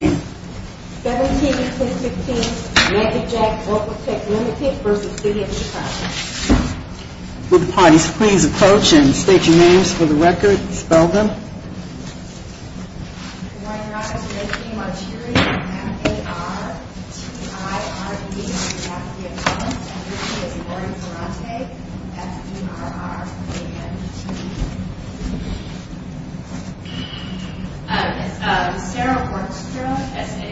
17-10-15 Magicjack Vocaltec Ltd v. City of Chicago Would the parties please approach and state your names for the record. Spell them. Lauren Ferrante Martiri M-A-R-T-I-R-E Lauren Ferrante F-E-R-R-A-N-T-I-R-E Lauren Ferrante Martiri M-A-R-T-I-R-E polymerase ebulite polymerase ebulite polymerase ebulite polymerase ebulite polymerase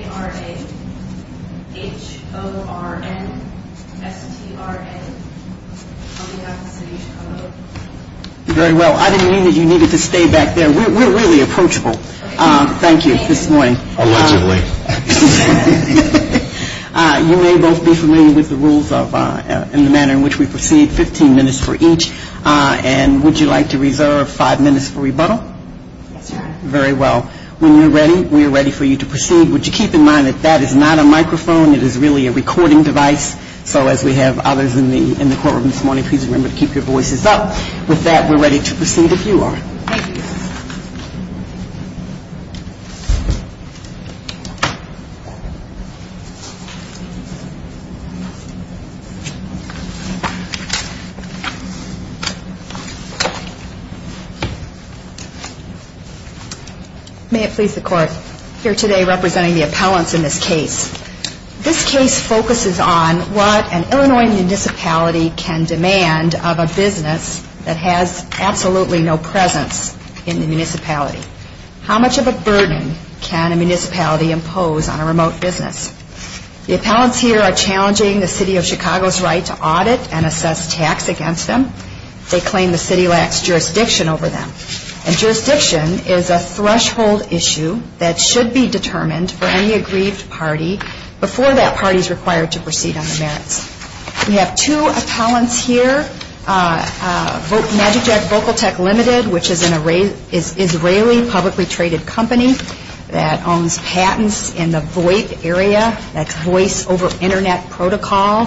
ebulite May it please the Court, here today representing the appellants in this case. This case focuses on what an Illinois municipality can demand of a business that has absolutely no presence in the municipality. How much of a burden can a municipality impose on a remote business? The appellants here are challenging the city of Chicago's right to audit and assess tax against them. They claim the city lacks jurisdiction over them. And jurisdiction is a threshold issue that should be determined for any aggrieved party before that party is required to proceed on the merits. We have two appellants here, MagicJack Vocal Tech Limited, which is an Israeli publicly traded company that owns patents in the VoIP area, that's Voice Over Internet Protocol,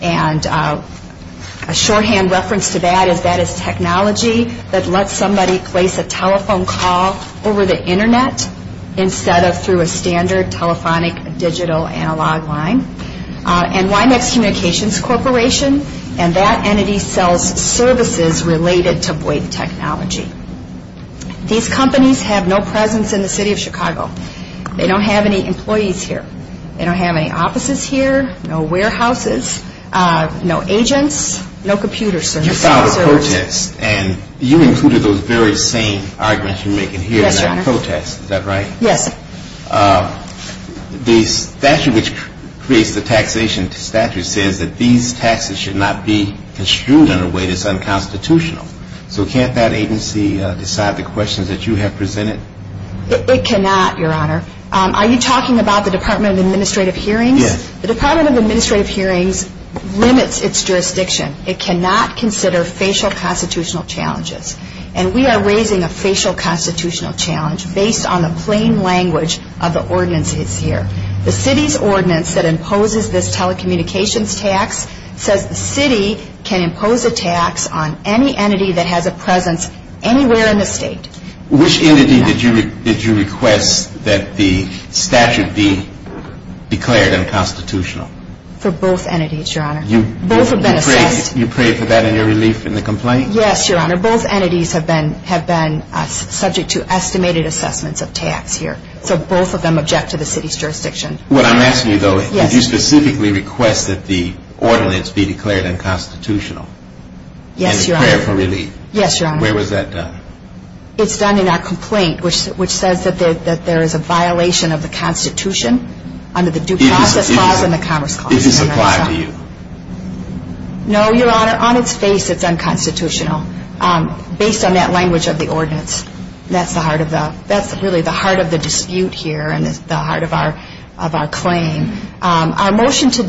and a shorthand reference to that is that is technology that lets somebody place a telephone call over the internet instead of through a standard telephonic digital analog line. And YMX Communications Corporation, and that entity sells services related to VoIP technology. These companies have no presence in the city of Chicago. They don't have any employees here. They don't have any offices here, no warehouses, no agents, no computer services. You filed a protest and you included those very same arguments you're making here in that protest, is that right? Yes. The statute which creates the taxation statute says that these taxes should not be construed in a way that's unconstitutional. So can't that agency decide the questions that you have presented? It cannot, Your Honor. Are you talking about the Department of Administrative Hearings? Yes. The Department of Administrative Hearings limits its jurisdiction. It cannot consider facial constitutional challenges. And we are raising a facial constitutional challenge based on the plain language of the ordinance that's here. The city's jurisdiction. Which entity did you request that the statute be declared unconstitutional? For both entities, Your Honor. You prayed for that in your relief in the complaint? Yes, Your Honor. Both entities have been subject to estimated assessments of tax here. So both of them object to the city's jurisdiction. What I'm asking you though, did you specifically request that the statute be declared unconstitutional? It's done in our complaint which says that there is a violation of the Constitution under the Due Process Clause and the Commerce Clause. Did this apply to you? No, Your Honor. On its face, it's unconstitutional based on that language of the ordinance. That's really the heart of the dispute here and the heart of our claim. Our motion to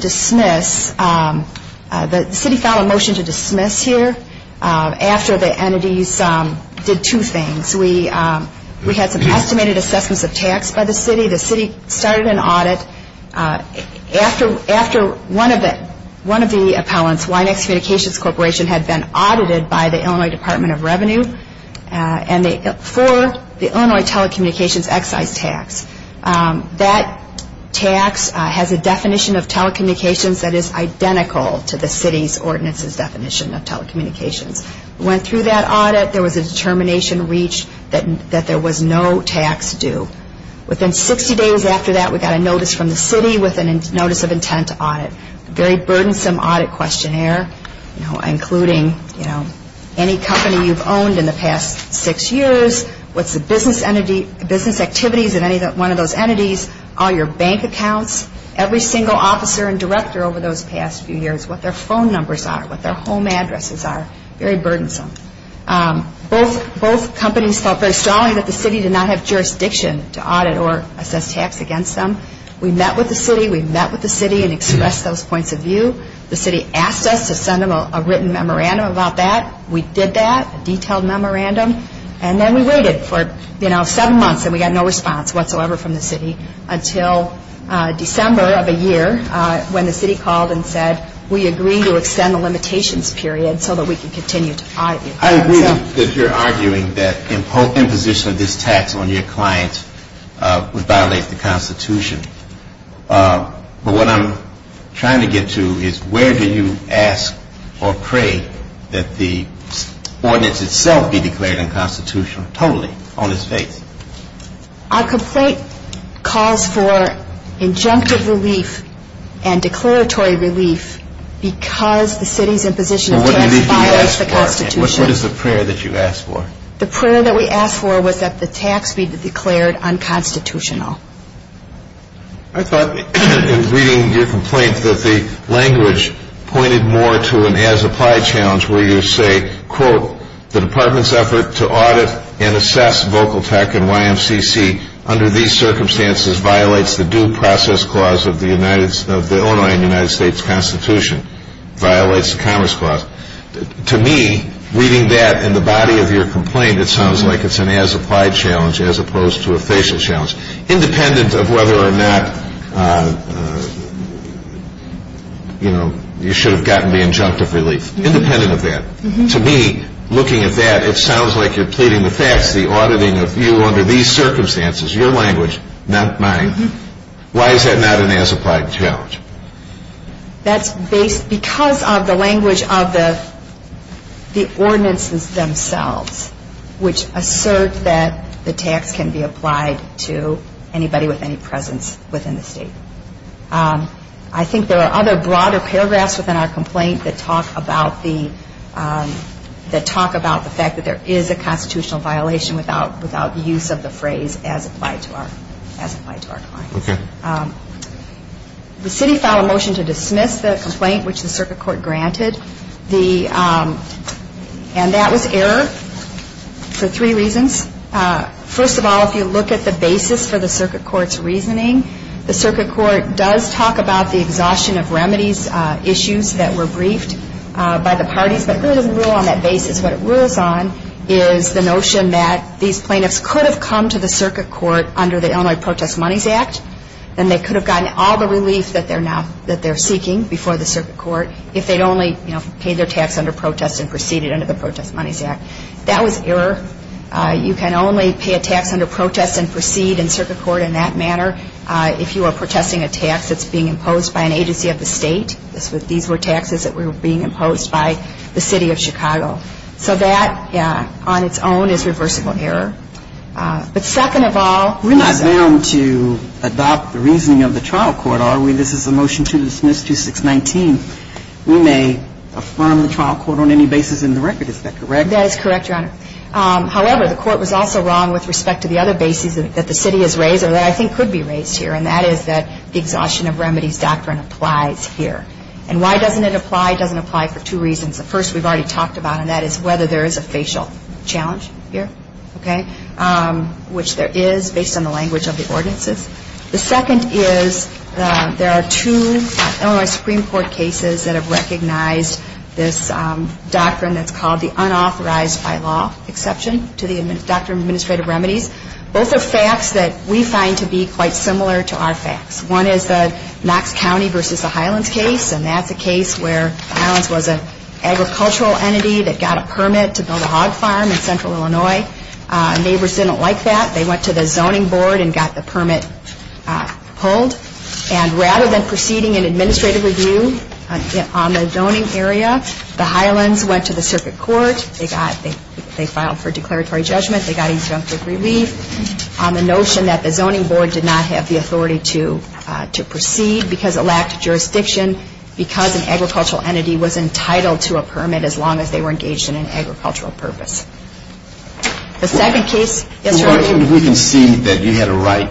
do two things. We had some estimated assessments of tax by the city. The city started an audit after one of the appellants, YNEX Communications Corporation, had been audited by the Illinois Department of Revenue for the Illinois Telecommunications Excise Tax. That tax has a definition of telecommunications that is identical to the city's ordinance's definition of that there was no tax due. Within 60 days after that, we got a notice from the city with a notice of intent to audit. Very burdensome audit questionnaire including any company you've owned in the past six years, what's the business activities of any one of those entities, all your bank accounts, every single officer and director over those past few years, what their phone numbers are, what their home addresses are. Very burdensome. Both companies felt very strongly that the city did not have jurisdiction to audit or assess tax against them. We met with the city. We met with the city and expressed those points of view. The city asked us to send them a written memorandum about that. We did that, a detailed memorandum. And then we waited for seven months and we got no response whatsoever from the city until December of a year when the city called and said we agree to extend the limitations period so that we can continue to audit. I agree that you're arguing that imposition of this tax on your client would violate the Constitution. But what I'm trying to get to is where do you ask or pray that the ordinance itself be declared unconstitutional totally on its face? Our complaint calls for injunctive relief and declaratory relief because the city's imposition of tax violates the Constitution. What is the prayer that you ask for? The prayer that we ask for was that the tax be declared unconstitutional. I thought in reading your complaint that the language pointed more to an as applied challenge where you say, quote, the department's effort to audit and YMCC under these circumstances violates the due process clause of the Illinois and United States Constitution, violates the commerce clause. To me, reading that in the body of your complaint, it sounds like it's an as applied challenge as opposed to a facial challenge, independent of whether or not you should have gotten the injunctive relief, independent of that. To me, looking at that, it sounds like you're pleading the facts, the auditing of you under these circumstances, your language, not mine. Why is that not an as applied challenge? That's because of the language of the ordinances themselves, which assert that the tax can be applied to anybody with any presence within the state. I think there are other broader paragraphs within our complaint that talk about the fact that there is a constitutional violation without the use of the phrase as applied to our client. The city filed a motion to dismiss the complaint which the circuit court granted, and that was error for three reasons. First of all, if you look at the basis for the circuit court's reasoning, the third rule on that basis, what it rules on is the notion that these plaintiffs could have come to the circuit court under the Illinois Protest Monies Act, and they could have gotten all the relief that they're seeking before the circuit court if they'd only paid their tax under protest and proceeded under the Protest Monies Act. That was error. You can only pay a tax under protest and proceed in circuit court in that manner if you are protesting a tax that's being imposed by an agency of the state. These were taxes that were being imposed by the city of Chicago. So that on its own is reversible error. But second of all we're not bound to adopt the reasoning of the trial court, are we? If you look at the basis for the circuit court's reasoning, the third rule on that basis, what it rules on is the notion that these plaintiffs could have come to the circuit court under the Illinois Protest Monies Act, and they could have gotten all the relief that they seek before the circuit court if they'd only paid their tax under protest and proceeded under the Protest Monies Act. The second is there are two Illinois Supreme Court cases that have recognized this doctrine that's called the unauthorized by law exception to the doctrine of administrative remedies. Both are facts that we find to be quite similar to our facts. One is the Knox County versus the Highlands case, and that's a case where the Highlands was an agricultural entity that got a permit to build a hog farm in central Illinois. Neighbors didn't like that. They went to the zoning board and got the permit pulled. And rather than proceeding an administrative review on the zoning area, the Highlands went to the circuit court. They filed for declaratory judgment. They got exempt with relief on the notion that the zoning board did not have the authority to proceed because it lacked jurisdiction because an agricultural entity was entitled to a permit as long as they were engaged in an agricultural purpose. The second case is where we can see that you had a right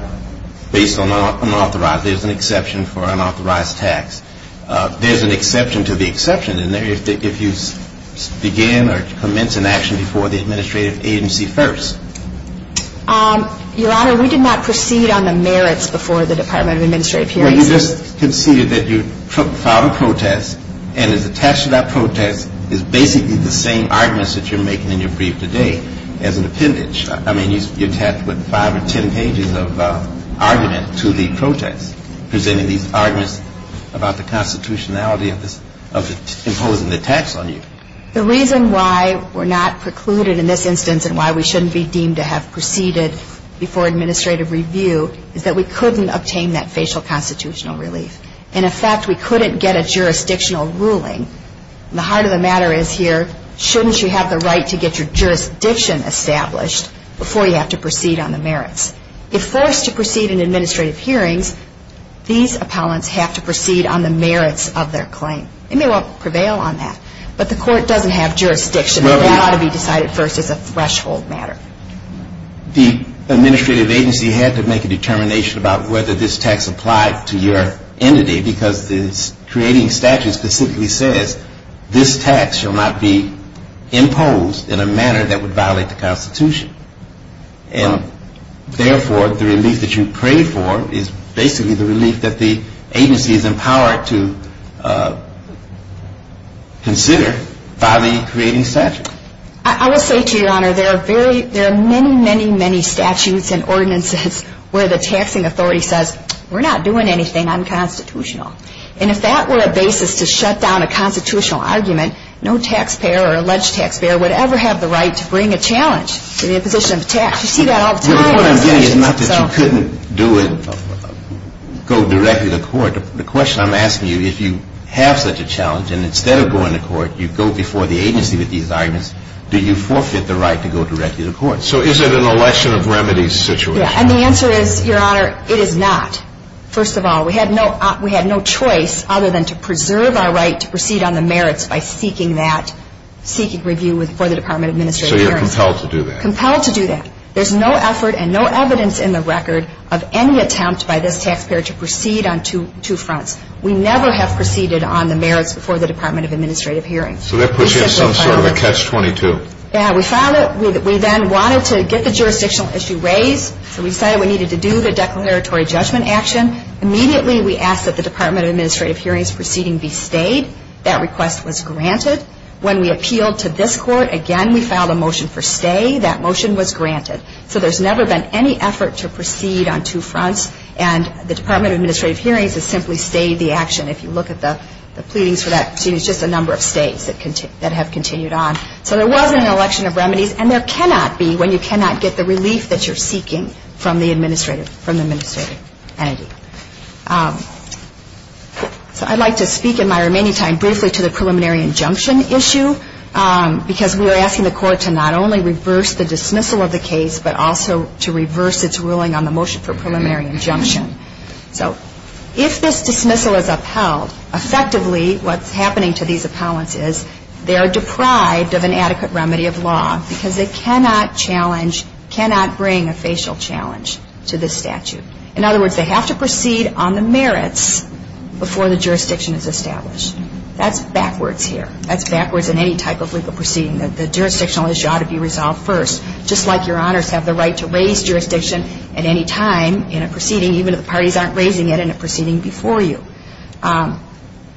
based on unauthorized. There's an exception for unauthorized tax. There's an exception to the exception in there if you begin or commence an action before the administrative agency first. Your Honor, we did not proceed on the merits before the Department of Administrative Hearings. Well, you just conceded that you filed a protest and it's attached to that argument that you're making in your brief today as an appendage. I mean, you're attached with five or ten pages of argument to the protest presenting these arguments about the constitutionality of imposing the tax on you. The reason why we're not precluded in this instance and why we shouldn't be deemed to have proceeded before administrative review is that we couldn't obtain that facial constitutional relief. In effect, we couldn't get a jurisdictional ruling. The heart of the matter is here, shouldn't you have the right to get your jurisdiction established before you have to proceed on the merits? If forced to proceed in administrative hearings, these appellants have to proceed on the merits of their claim. They may well prevail on that. But the court doesn't have jurisdiction. That ought to be decided first as a threshold matter. The administrative agency had to make a determination about whether this tax applied to your entity because the creating statute specifically says, this tax shall not be imposed in a manner that would violate the constitution. And, therefore, the relief that you pray for is basically the relief that the agency is empowered to consider by the creating statute. I will say to you, Your Honor, there are many, many, many statutes and ordinances where the taxing authority says, we're not doing anything unconstitutional. And if that were a basis to shut down a constitutional argument, no taxpayer or alleged taxpayer would ever have the right to bring a challenge to the imposition of a tax. You see that all the time. The point I'm getting is not that you couldn't do it, go directly to court. The question I'm asking you, if you have such a challenge, and instead of going to court, you go before the agency with these arguments, do you forfeit the right to go directly to court? So is it an election of remedies situation? Yeah, and the answer is, Your Honor, it is not. First of all, we had no choice other than to preserve our right to proceed on the merits by seeking that, seeking review for the Department of Administrative Hearings. So you're compelled to do that. Compelled to do that. There's no effort and no evidence in the record of any attempt by this taxpayer to proceed on two fronts. We never have proceeded on the merits before the Department of Administrative Hearings. So that puts you in some sort of a catch-22. Yeah, we filed it. We then wanted to get the jurisdictional issue raised. So we decided we needed to do the declaratory judgment action. Immediately we asked that the Department of Administrative Hearings proceeding be stayed. That request was granted. When we appealed to this court, again, we filed a motion for stay. That motion was granted. So there's never been any effort to proceed on two fronts, and the Department of Administrative Hearings has simply stayed the action. If you look at the pleadings for that proceeding, it's just a number of states that have continued on. So there was an election of remedies, and there cannot be when you cannot get the relief that you're seeking from the administrative entity. So I'd like to speak in my remaining time briefly to the preliminary injunction issue because we were asking the court to not only reverse the dismissal of the case, but also to reverse its ruling on the motion for preliminary injunction. So if this dismissal is upheld, effectively what's happening to these colleagues is they are deprived of an adequate remedy of law because they cannot challenge, cannot bring a facial challenge to this statute. In other words, they have to proceed on the merits before the jurisdiction is established. That's backwards here. That's backwards in any type of legal proceeding. The jurisdictional issue ought to be resolved first. Just like your honors have the right to raise jurisdiction at any time in a proceeding, even if the parties aren't raising it in a proceeding before you.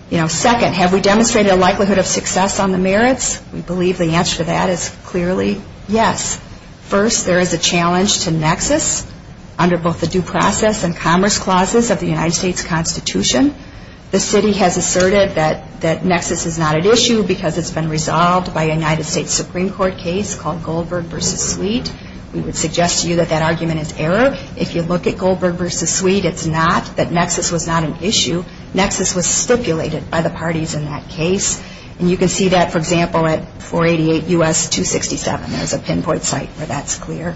You know, second, have we demonstrated a likelihood of success on the merits? We believe the answer to that is clearly yes. First, there is a challenge to nexus under both the due process and commerce clauses of the United States Constitution. The city has asserted that nexus is not an issue because it's been resolved by a United States Supreme Court case called Goldberg v. Sweet. We would suggest to you that that argument is error. If you look at Goldberg v. Sweet, it's not that nexus was not an issue. Nexus was stipulated by the parties in that case. And you can see that, for example, at 488 U.S. 267. There's a pinpoint site where that's clear.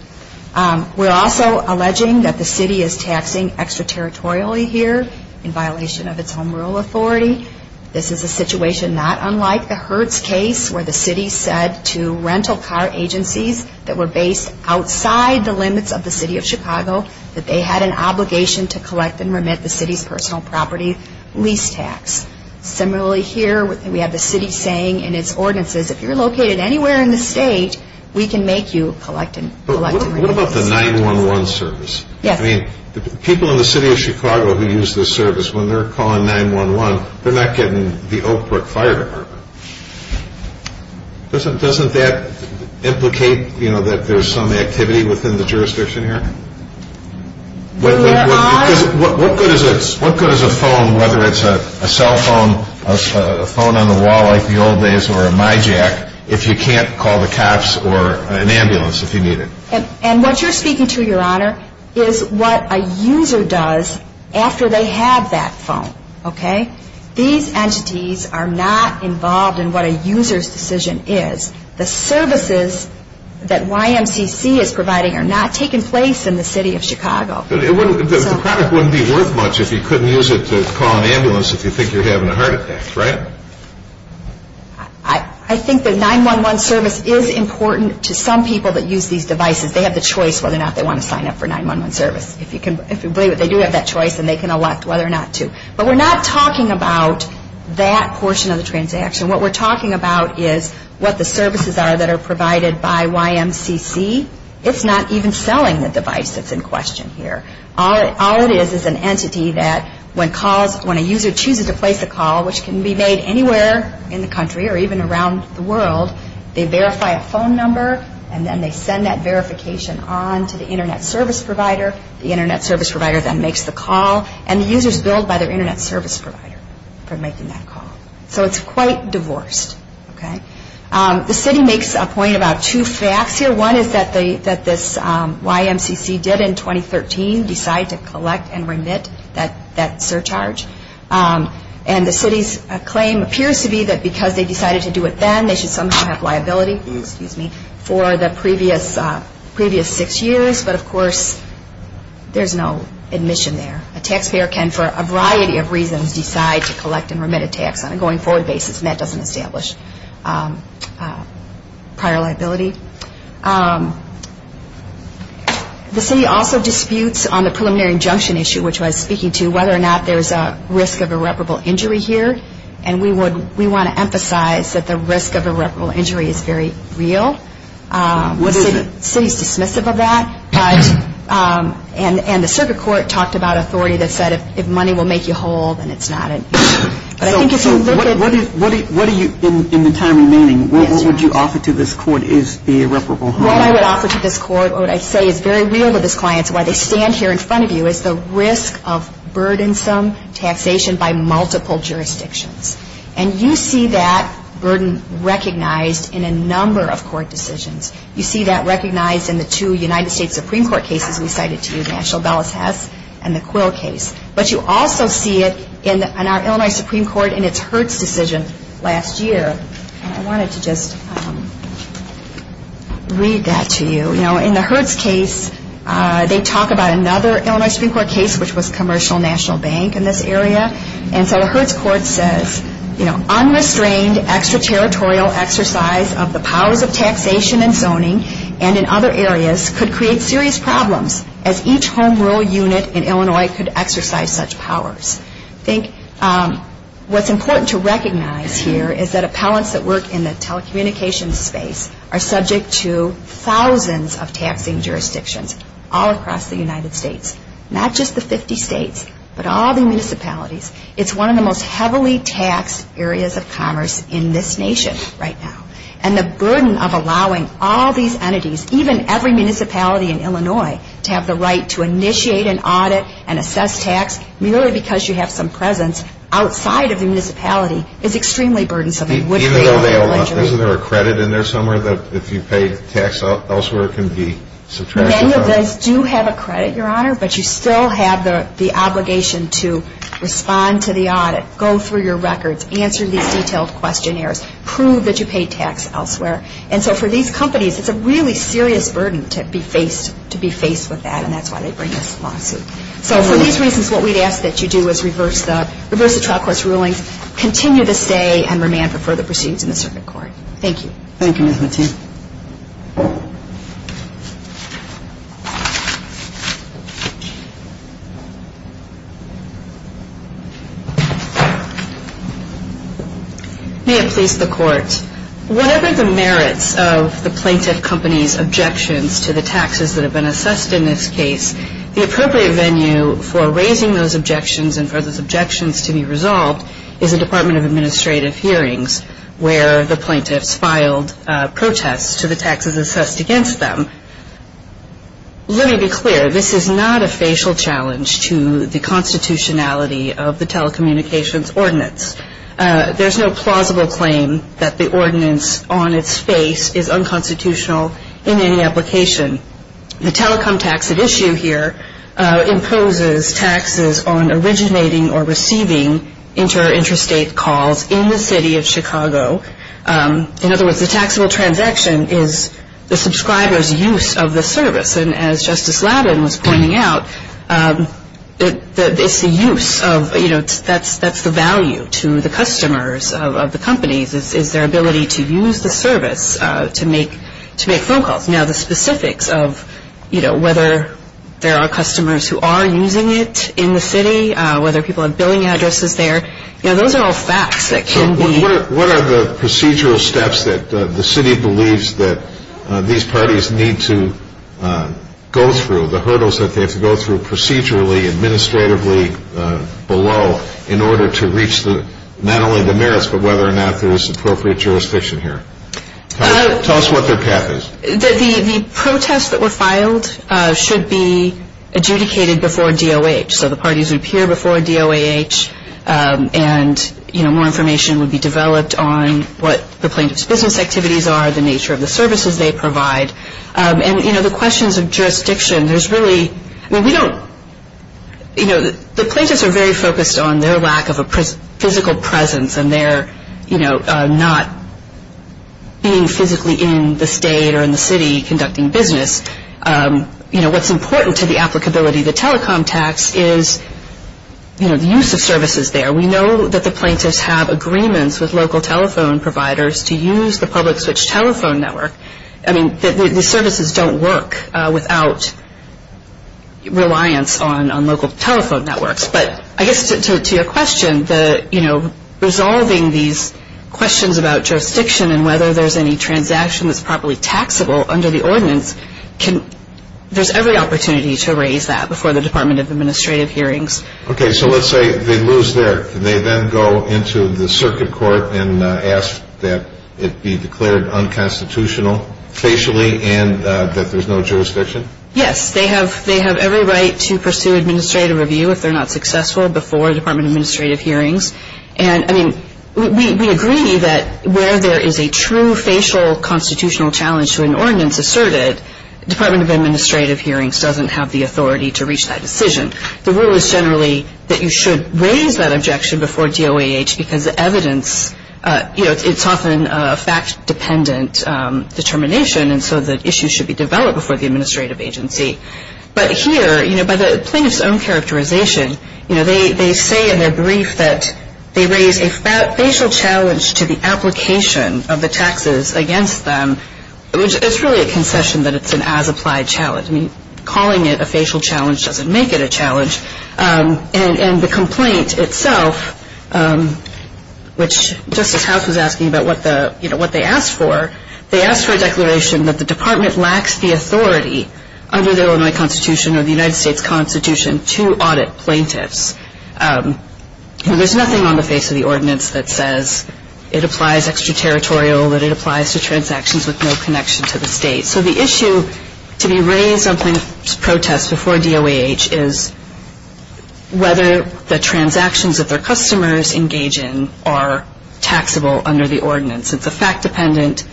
We're also alleging that the city is taxing extraterritorially here in violation of its own rural authority. This is a situation not unlike the Hertz case where the city said to rental car agencies that were based outside the limits of the city of Chicago that they had an obligation to collect and remit the city's personal property lease tax. Similarly here, we have the city saying in its ordinances, if you're located anywhere in the state, we can make you collect and remit. What about the 911 service? Yes. I mean, the people in the city of Chicago who use this service, when they're calling 911, they're not getting the Oak Brook Fire Department. Doesn't that implicate, you know, that there's some activity within the jurisdiction here? What good is a phone, whether it's a cell phone, a phone on the wall like the old days, or a MiJack, if you can't call the cops or an ambulance if you need it? And what you're speaking to, Your Honor, is what a user does after they have that phone, okay? These entities are not involved in what a user's decision is. The services that YMCC is providing are not taking place in the city of Chicago. The product wouldn't be worth much if you couldn't use it to call an ambulance if you think you're having a heart attack, right? I think the 911 service is important to some people that use these devices. They have the choice whether or not they want to sign up for 911 service. If you believe it, they do have that choice, and they can elect whether or not to. But we're not talking about that portion of the transaction. What we're talking about is what the services are that are provided by YMCC. It's not even selling the device that's in question here. All it is is an entity that when a user chooses to place a call, which can be made anywhere in the country or even around the world, they verify a phone number, and then they send that verification on to the Internet service provider. The Internet service provider then makes the call, and the user is billed by their Internet service provider for making that call. So it's quite divorced, okay? The city makes a point about two facts here. One is that this YMCC did in 2013 decide to collect and remit that surcharge, and the city's claim appears to be that because they decided to do it then, they should somehow have liability for the previous six years. But, of course, there's no admission there. A taxpayer can, for a variety of reasons, decide to collect and remit a tax on a going-forward basis, and that doesn't establish prior liability. The city also disputes on the preliminary injunction issue, which was speaking to whether or not there's a risk of irreparable injury here, and we want to emphasize that the risk of irreparable injury is very real. What is it? The city is dismissive of that, and the circuit court talked about authority that said if money will make you whole, then it's not. But I think if you look at... So what are you, in the time remaining, what would you offer to this court is the irreparable harm? What I would offer to this court, or what I'd say is very real to these clients, why they stand here in front of you, is the risk of burdensome taxation by multiple jurisdictions. And you see that burden recognized in a number of court decisions. You see that recognized in the two United States Supreme Court cases we cited to you, the actual Bellis-Hess and the Quill case. But you also see it in our Illinois Supreme Court in its Hertz decision last year. I wanted to just read that to you. You know, in the Hertz case, they talk about another Illinois Supreme Court case, which was Commercial National Bank in this area. And so the Hertz court says, you know, unrestrained extraterritorial exercise of the powers of taxation and zoning, and in other areas, could create serious problems, as each home rule unit in Illinois could exercise such powers. I think what's important to recognize here is that appellants that work in the telecommunications space are subject to thousands of taxing jurisdictions all across the United States. Not just the 50 states, but all the municipalities. It's one of the most heavily taxed areas of commerce in this nation right now. And the burden of allowing all these entities, even every municipality in Illinois, to have the right to initiate an audit and assess tax, merely because you have some presence outside of the municipality, is extremely burdensome. Isn't there a credit in there somewhere that if you pay tax elsewhere, it can be subtracted from? Many of those do have a credit, Your Honor, but you still have the obligation to respond to the audit, go through your records, answer these detailed questionnaires, prove that you paid tax elsewhere. And so for these companies, it's a really serious burden to be faced with that, and that's why they bring this lawsuit. So for these reasons, what we'd ask that you do is reverse the trial court's rulings, continue to stay and remand for further proceedings in the circuit court. Thank you. Thank you, Ms. Mateo. May it please the Court. Whatever the merits of the plaintiff company's objections to the taxes that have been assessed in this case, the appropriate venue for raising those objections and for those objections to be resolved is a Department of Administrative hearings where the plaintiffs filed protests to the taxes assessed against them. Let me be clear. This is not a facial challenge to the constitutionality of the telecommunications ordinance. There's no plausible claim that the ordinance on its face is unconstitutional in any application. The telecom tax at issue here imposes taxes on originating or receiving interstate calls in the city of Chicago. In other words, the taxable transaction is the subscriber's use of the service. And as Justice Laddin was pointing out, it's the use of, you know, that's the value to the customers of the companies is their ability to use the service to make phone calls. Now, the specifics of, you know, whether there are customers who are using it in the city, whether people have billing addresses there, you know, those are all facts that can be. What are the procedural steps that the city believes that these parties need to go through, the hurdles that they have to go through procedurally, administratively, below, in order to reach not only the merits but whether or not there is appropriate jurisdiction here? Tell us what their path is. The protests that were filed should be adjudicated before DOH. So the parties would appear before DOH and, you know, more information would be developed on what the plaintiff's business activities are, the nature of the services they provide. And, you know, the questions of jurisdiction, there's really, I mean, we don't, you know, the plaintiffs are very focused on their lack of a physical presence and their, you know, not being physically in the state or in the city conducting business. You know, what's important to the applicability of the telecom tax is, you know, the use of services there. We know that the plaintiffs have agreements with local telephone providers to use the public switch telephone network. I mean, the services don't work without reliance on local telephone networks. But I guess to your question, the, you know, resolving these questions about jurisdiction and whether there's any transaction that's properly taxable under the ordinance, there's every opportunity to raise that before the Department of Administrative Hearings. Okay. So let's say they lose there. Can they then go into the circuit court and ask that it be declared unconstitutional facially and that there's no jurisdiction? Yes. They have every right to pursue administrative review if they're not successful before Department of Administrative Hearings. And, I mean, we agree that where there is a true facial constitutional challenge to an ordinance asserted, Department of Administrative Hearings doesn't have the authority to reach that decision. The rule is generally that you should raise that objection before DOAH because the evidence, you know, it's often a fact-dependent determination, and so the issue should be developed before the administrative agency. But here, you know, by the plaintiff's own characterization, you know, they say in their brief that they raise a facial challenge to the application of the taxes against them. It's really a concession that it's an as-applied challenge. I mean, calling it a facial challenge doesn't make it a challenge. And the complaint itself, which Justice House was asking about what the, you know, what they asked for, they asked for a declaration that the department lacks the authority under the Illinois Constitution or the United States Constitution to audit plaintiffs. You know, there's nothing on the face of the ordinance that says it applies extraterritorial, that it applies to transactions with no connection to the state. So the issue to be raised on plaintiff's protest before DOAH is whether the transactions that their customers engage in are taxable under the ordinance. It's a fact-dependent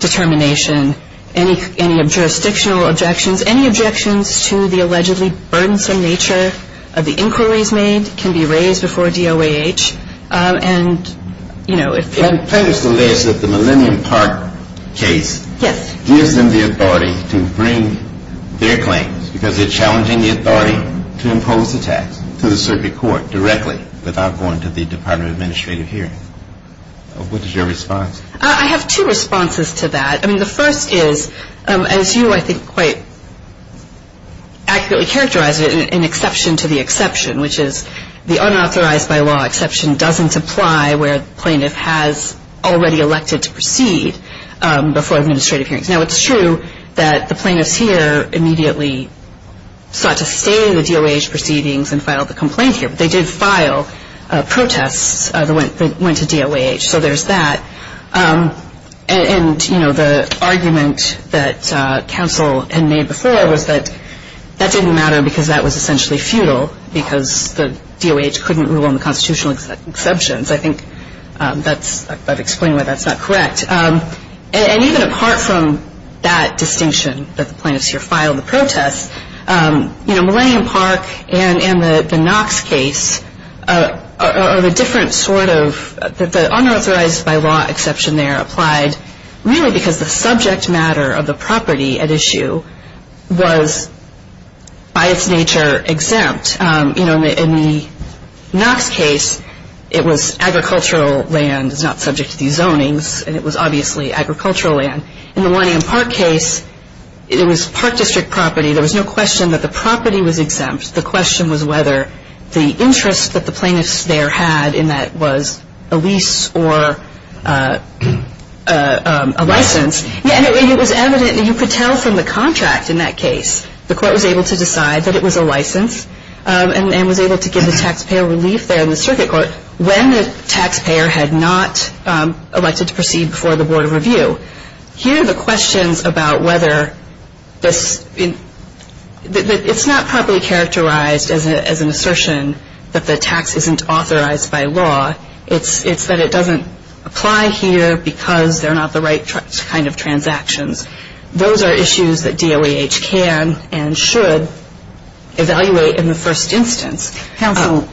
determination. Any jurisdictional objections, any objections to the allegedly burdensome nature of the inquiries made can be raised before DOAH. And, you know, if you're... And plaintiffs allege that the Millennium Park case... Yes. ...gives them the authority to bring their claims because they're challenging the authority to impose the tax to the circuit court directly without going to the Department of Administrative Hearing. What is your response? I have two responses to that. I mean, the first is, as you, I think, quite accurately characterized it, an exception to the exception, which is the unauthorized by law exception doesn't apply where the plaintiff has already elected to proceed before administrative hearings. Now, it's true that the plaintiffs here immediately sought to stay in the DOAH proceedings and filed the complaint here, they did file protests that went to DOAH, so there's that. And, you know, the argument that counsel had made before was that that didn't matter because that was essentially futile because the DOAH couldn't rule on the constitutional exceptions. I think that's, I've explained why that's not correct. And even apart from that distinction that the plaintiffs here filed the protests, you know, Millennium Park and the Knox case are the different sort of, the unauthorized by law exception there applied really because the subject matter of the property at issue was by its nature exempt. You know, in the Knox case, it was agricultural land, it's not subject to these zonings, and it was obviously agricultural land. In the Millennium Park case, it was park district property. There was no question that the property was exempt. The question was whether the interest that the plaintiffs there had in that was a lease or a license. And it was evident, and you could tell from the contract in that case, the court was able to decide that it was a license and was able to give the taxpayer relief there in the circuit court Here are the questions about whether this, it's not properly characterized as an assertion that the tax isn't authorized by law. It's that it doesn't apply here because they're not the right kind of transactions. Those are issues that DOAH can and should evaluate in the first instance. Counsel,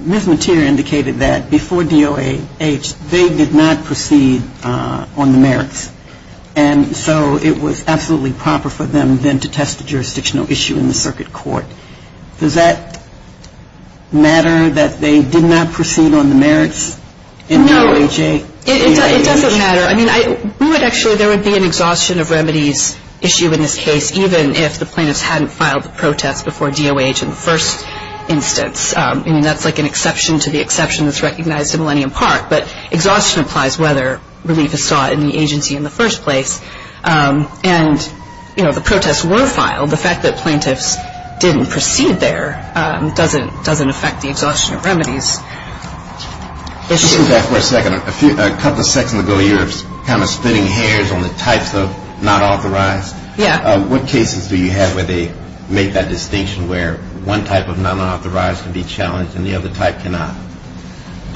Ms. Mateer indicated that before DOAH, they did not proceed on the merits. And so it was absolutely proper for them then to test the jurisdictional issue in the circuit court. Does that matter that they did not proceed on the merits in DOAH? No, it doesn't matter. I mean, we would actually, there would be an exhaustion of remedies issue in this case, even if the plaintiffs hadn't filed the protest before DOAH in the first instance. I mean, that's like an exception to the exception that's recognized in Millennium Park. But exhaustion applies whether relief is sought in the agency in the first place. And, you know, the protests were filed. The fact that plaintiffs didn't proceed there doesn't affect the exhaustion of remedies issue. Let's go back for a second. A couple of seconds ago, you were kind of spinning hairs on the types of not authorized. Yeah. What cases do you have where they make that distinction where one type of not authorized can be challenged and the other type cannot?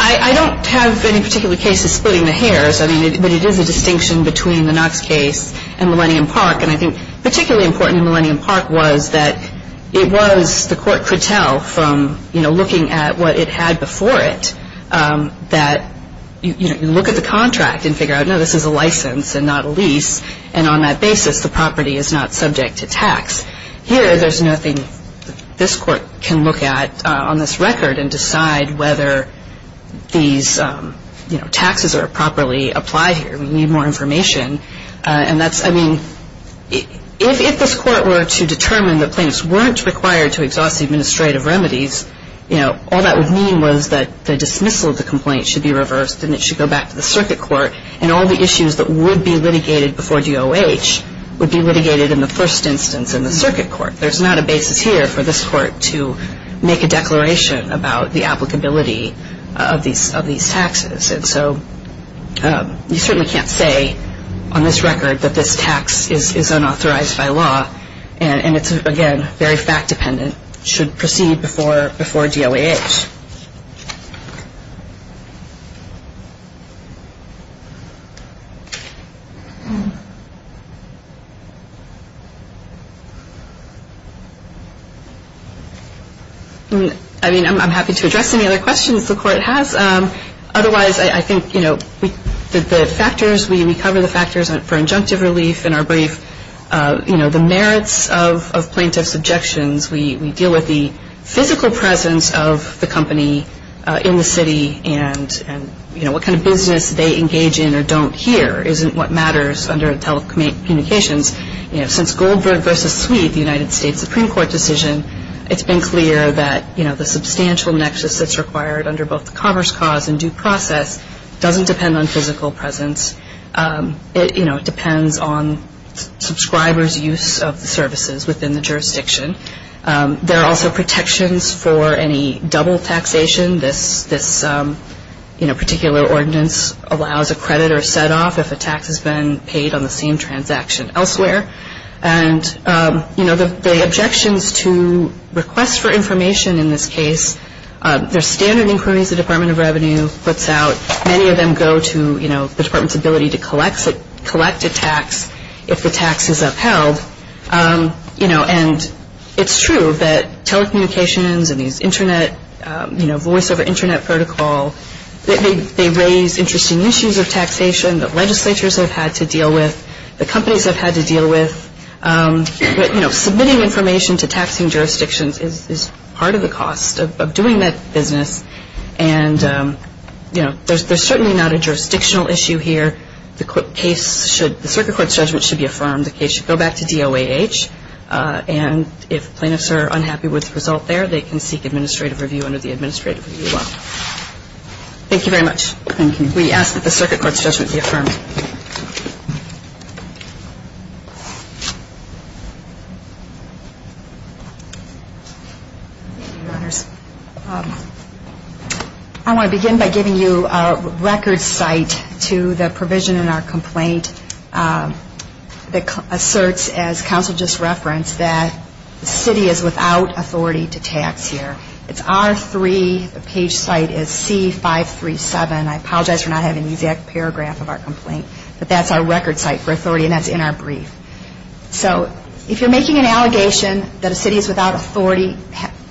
I don't have any particular cases splitting the hairs. I mean, but it is a distinction between the Knox case and Millennium Park. And I think particularly important in Millennium Park was that it was the court could tell from, you know, looking at what it had before it that, you know, you look at the contract and figure out, no, this is a license and not a lease, and on that basis the property is not subject to tax. Here there's nothing this court can look at on this record and decide whether these, you know, taxes are properly applied here. We need more information. And that's, I mean, if this court were to determine that plaintiffs weren't required to exhaust the administrative remedies, you know, all that would mean was that the dismissal of the complaint should be reversed and it should go back to the circuit court, and all the issues that would be litigated before DOH would be litigated in the first instance in the circuit court. There's not a basis here for this court to make a declaration about the applicability of these taxes. And so you certainly can't say on this record that this tax is unauthorized by law, and it's, again, very fact-dependent, should proceed before DOH. I mean, I'm happy to address any other questions the court has. Otherwise, I think, you know, the factors, we cover the factors for injunctive relief in our brief. You know, the merits of plaintiff's objections, we deal with the physical presence of the company in the city and, you know, what kind of business they engage in or don't here isn't what matters under telecommunications. You know, since Goldberg v. Sweet, the United States Supreme Court decision, it's been clear that, you know, the substantial nexus that's required under both the commerce cause and due process doesn't depend on physical presence. It, you know, depends on subscribers' use of the services within the jurisdiction. There are also protections for any double taxation. This, you know, particular ordinance allows a credit or a set-off if a tax has been paid on the same transaction elsewhere. And, you know, the objections to requests for information in this case, they're standard inquiries the Department of Revenue puts out. Many of them go to, you know, the Department's ability to collect a tax if the tax is upheld. You know, and it's true that telecommunications and these internet, you know, voice-over internet protocol, they raise interesting issues of taxation that legislatures have had to deal with, the companies have had to deal with. You know, submitting information to taxing jurisdictions is part of the cost of doing that business. And, you know, there's certainly not a jurisdictional issue here. The case should, the circuit court's judgment should be affirmed. The case should go back to DOAH. And if plaintiffs are unhappy with the result there, they can seek administrative review under the administrative review law. Thank you very much. Thank you. We ask that the circuit court's judgment be affirmed. I want to begin by giving you a record site to the provision in our complaint that asserts, as counsel just referenced, that the city is without authority to tax here. It's R3, the page site is C537. I apologize for not having the exact paragraph of our complaint. But that's our record site for authority, and that's in our brief. So if you're making an allegation that a city is without authority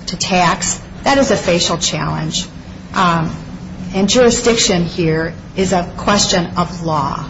to tax, that is a facial challenge. And jurisdiction here is a question of law,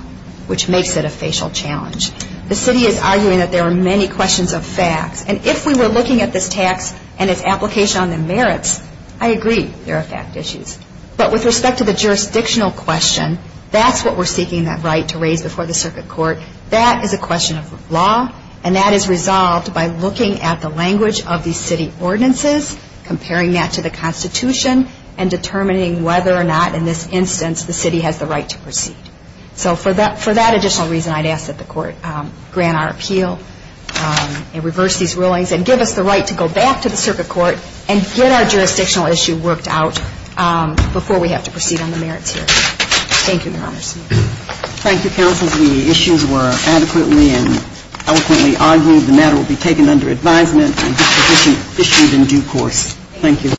which makes it a facial challenge. The city is arguing that there are many questions of facts. And if we were looking at this tax and its application on the merits, I agree, there are fact issues. But with respect to the jurisdictional question, that's what we're seeking that right to raise before the circuit court. That is a question of law, and that is resolved by looking at the language of these city ordinances, comparing that to the Constitution, and determining whether or not in this instance the city has the right to proceed. So for that additional reason, I'd ask that the court grant our appeal and reverse these rulings and give us the right to go back to the circuit court and get our jurisdictional issue worked out before we have to proceed on the merits here. Thank you, Your Honor. Thank you, counsel. The issues were adequately and eloquently argued. The matter will be taken under advisement and issued in due course. Thank you.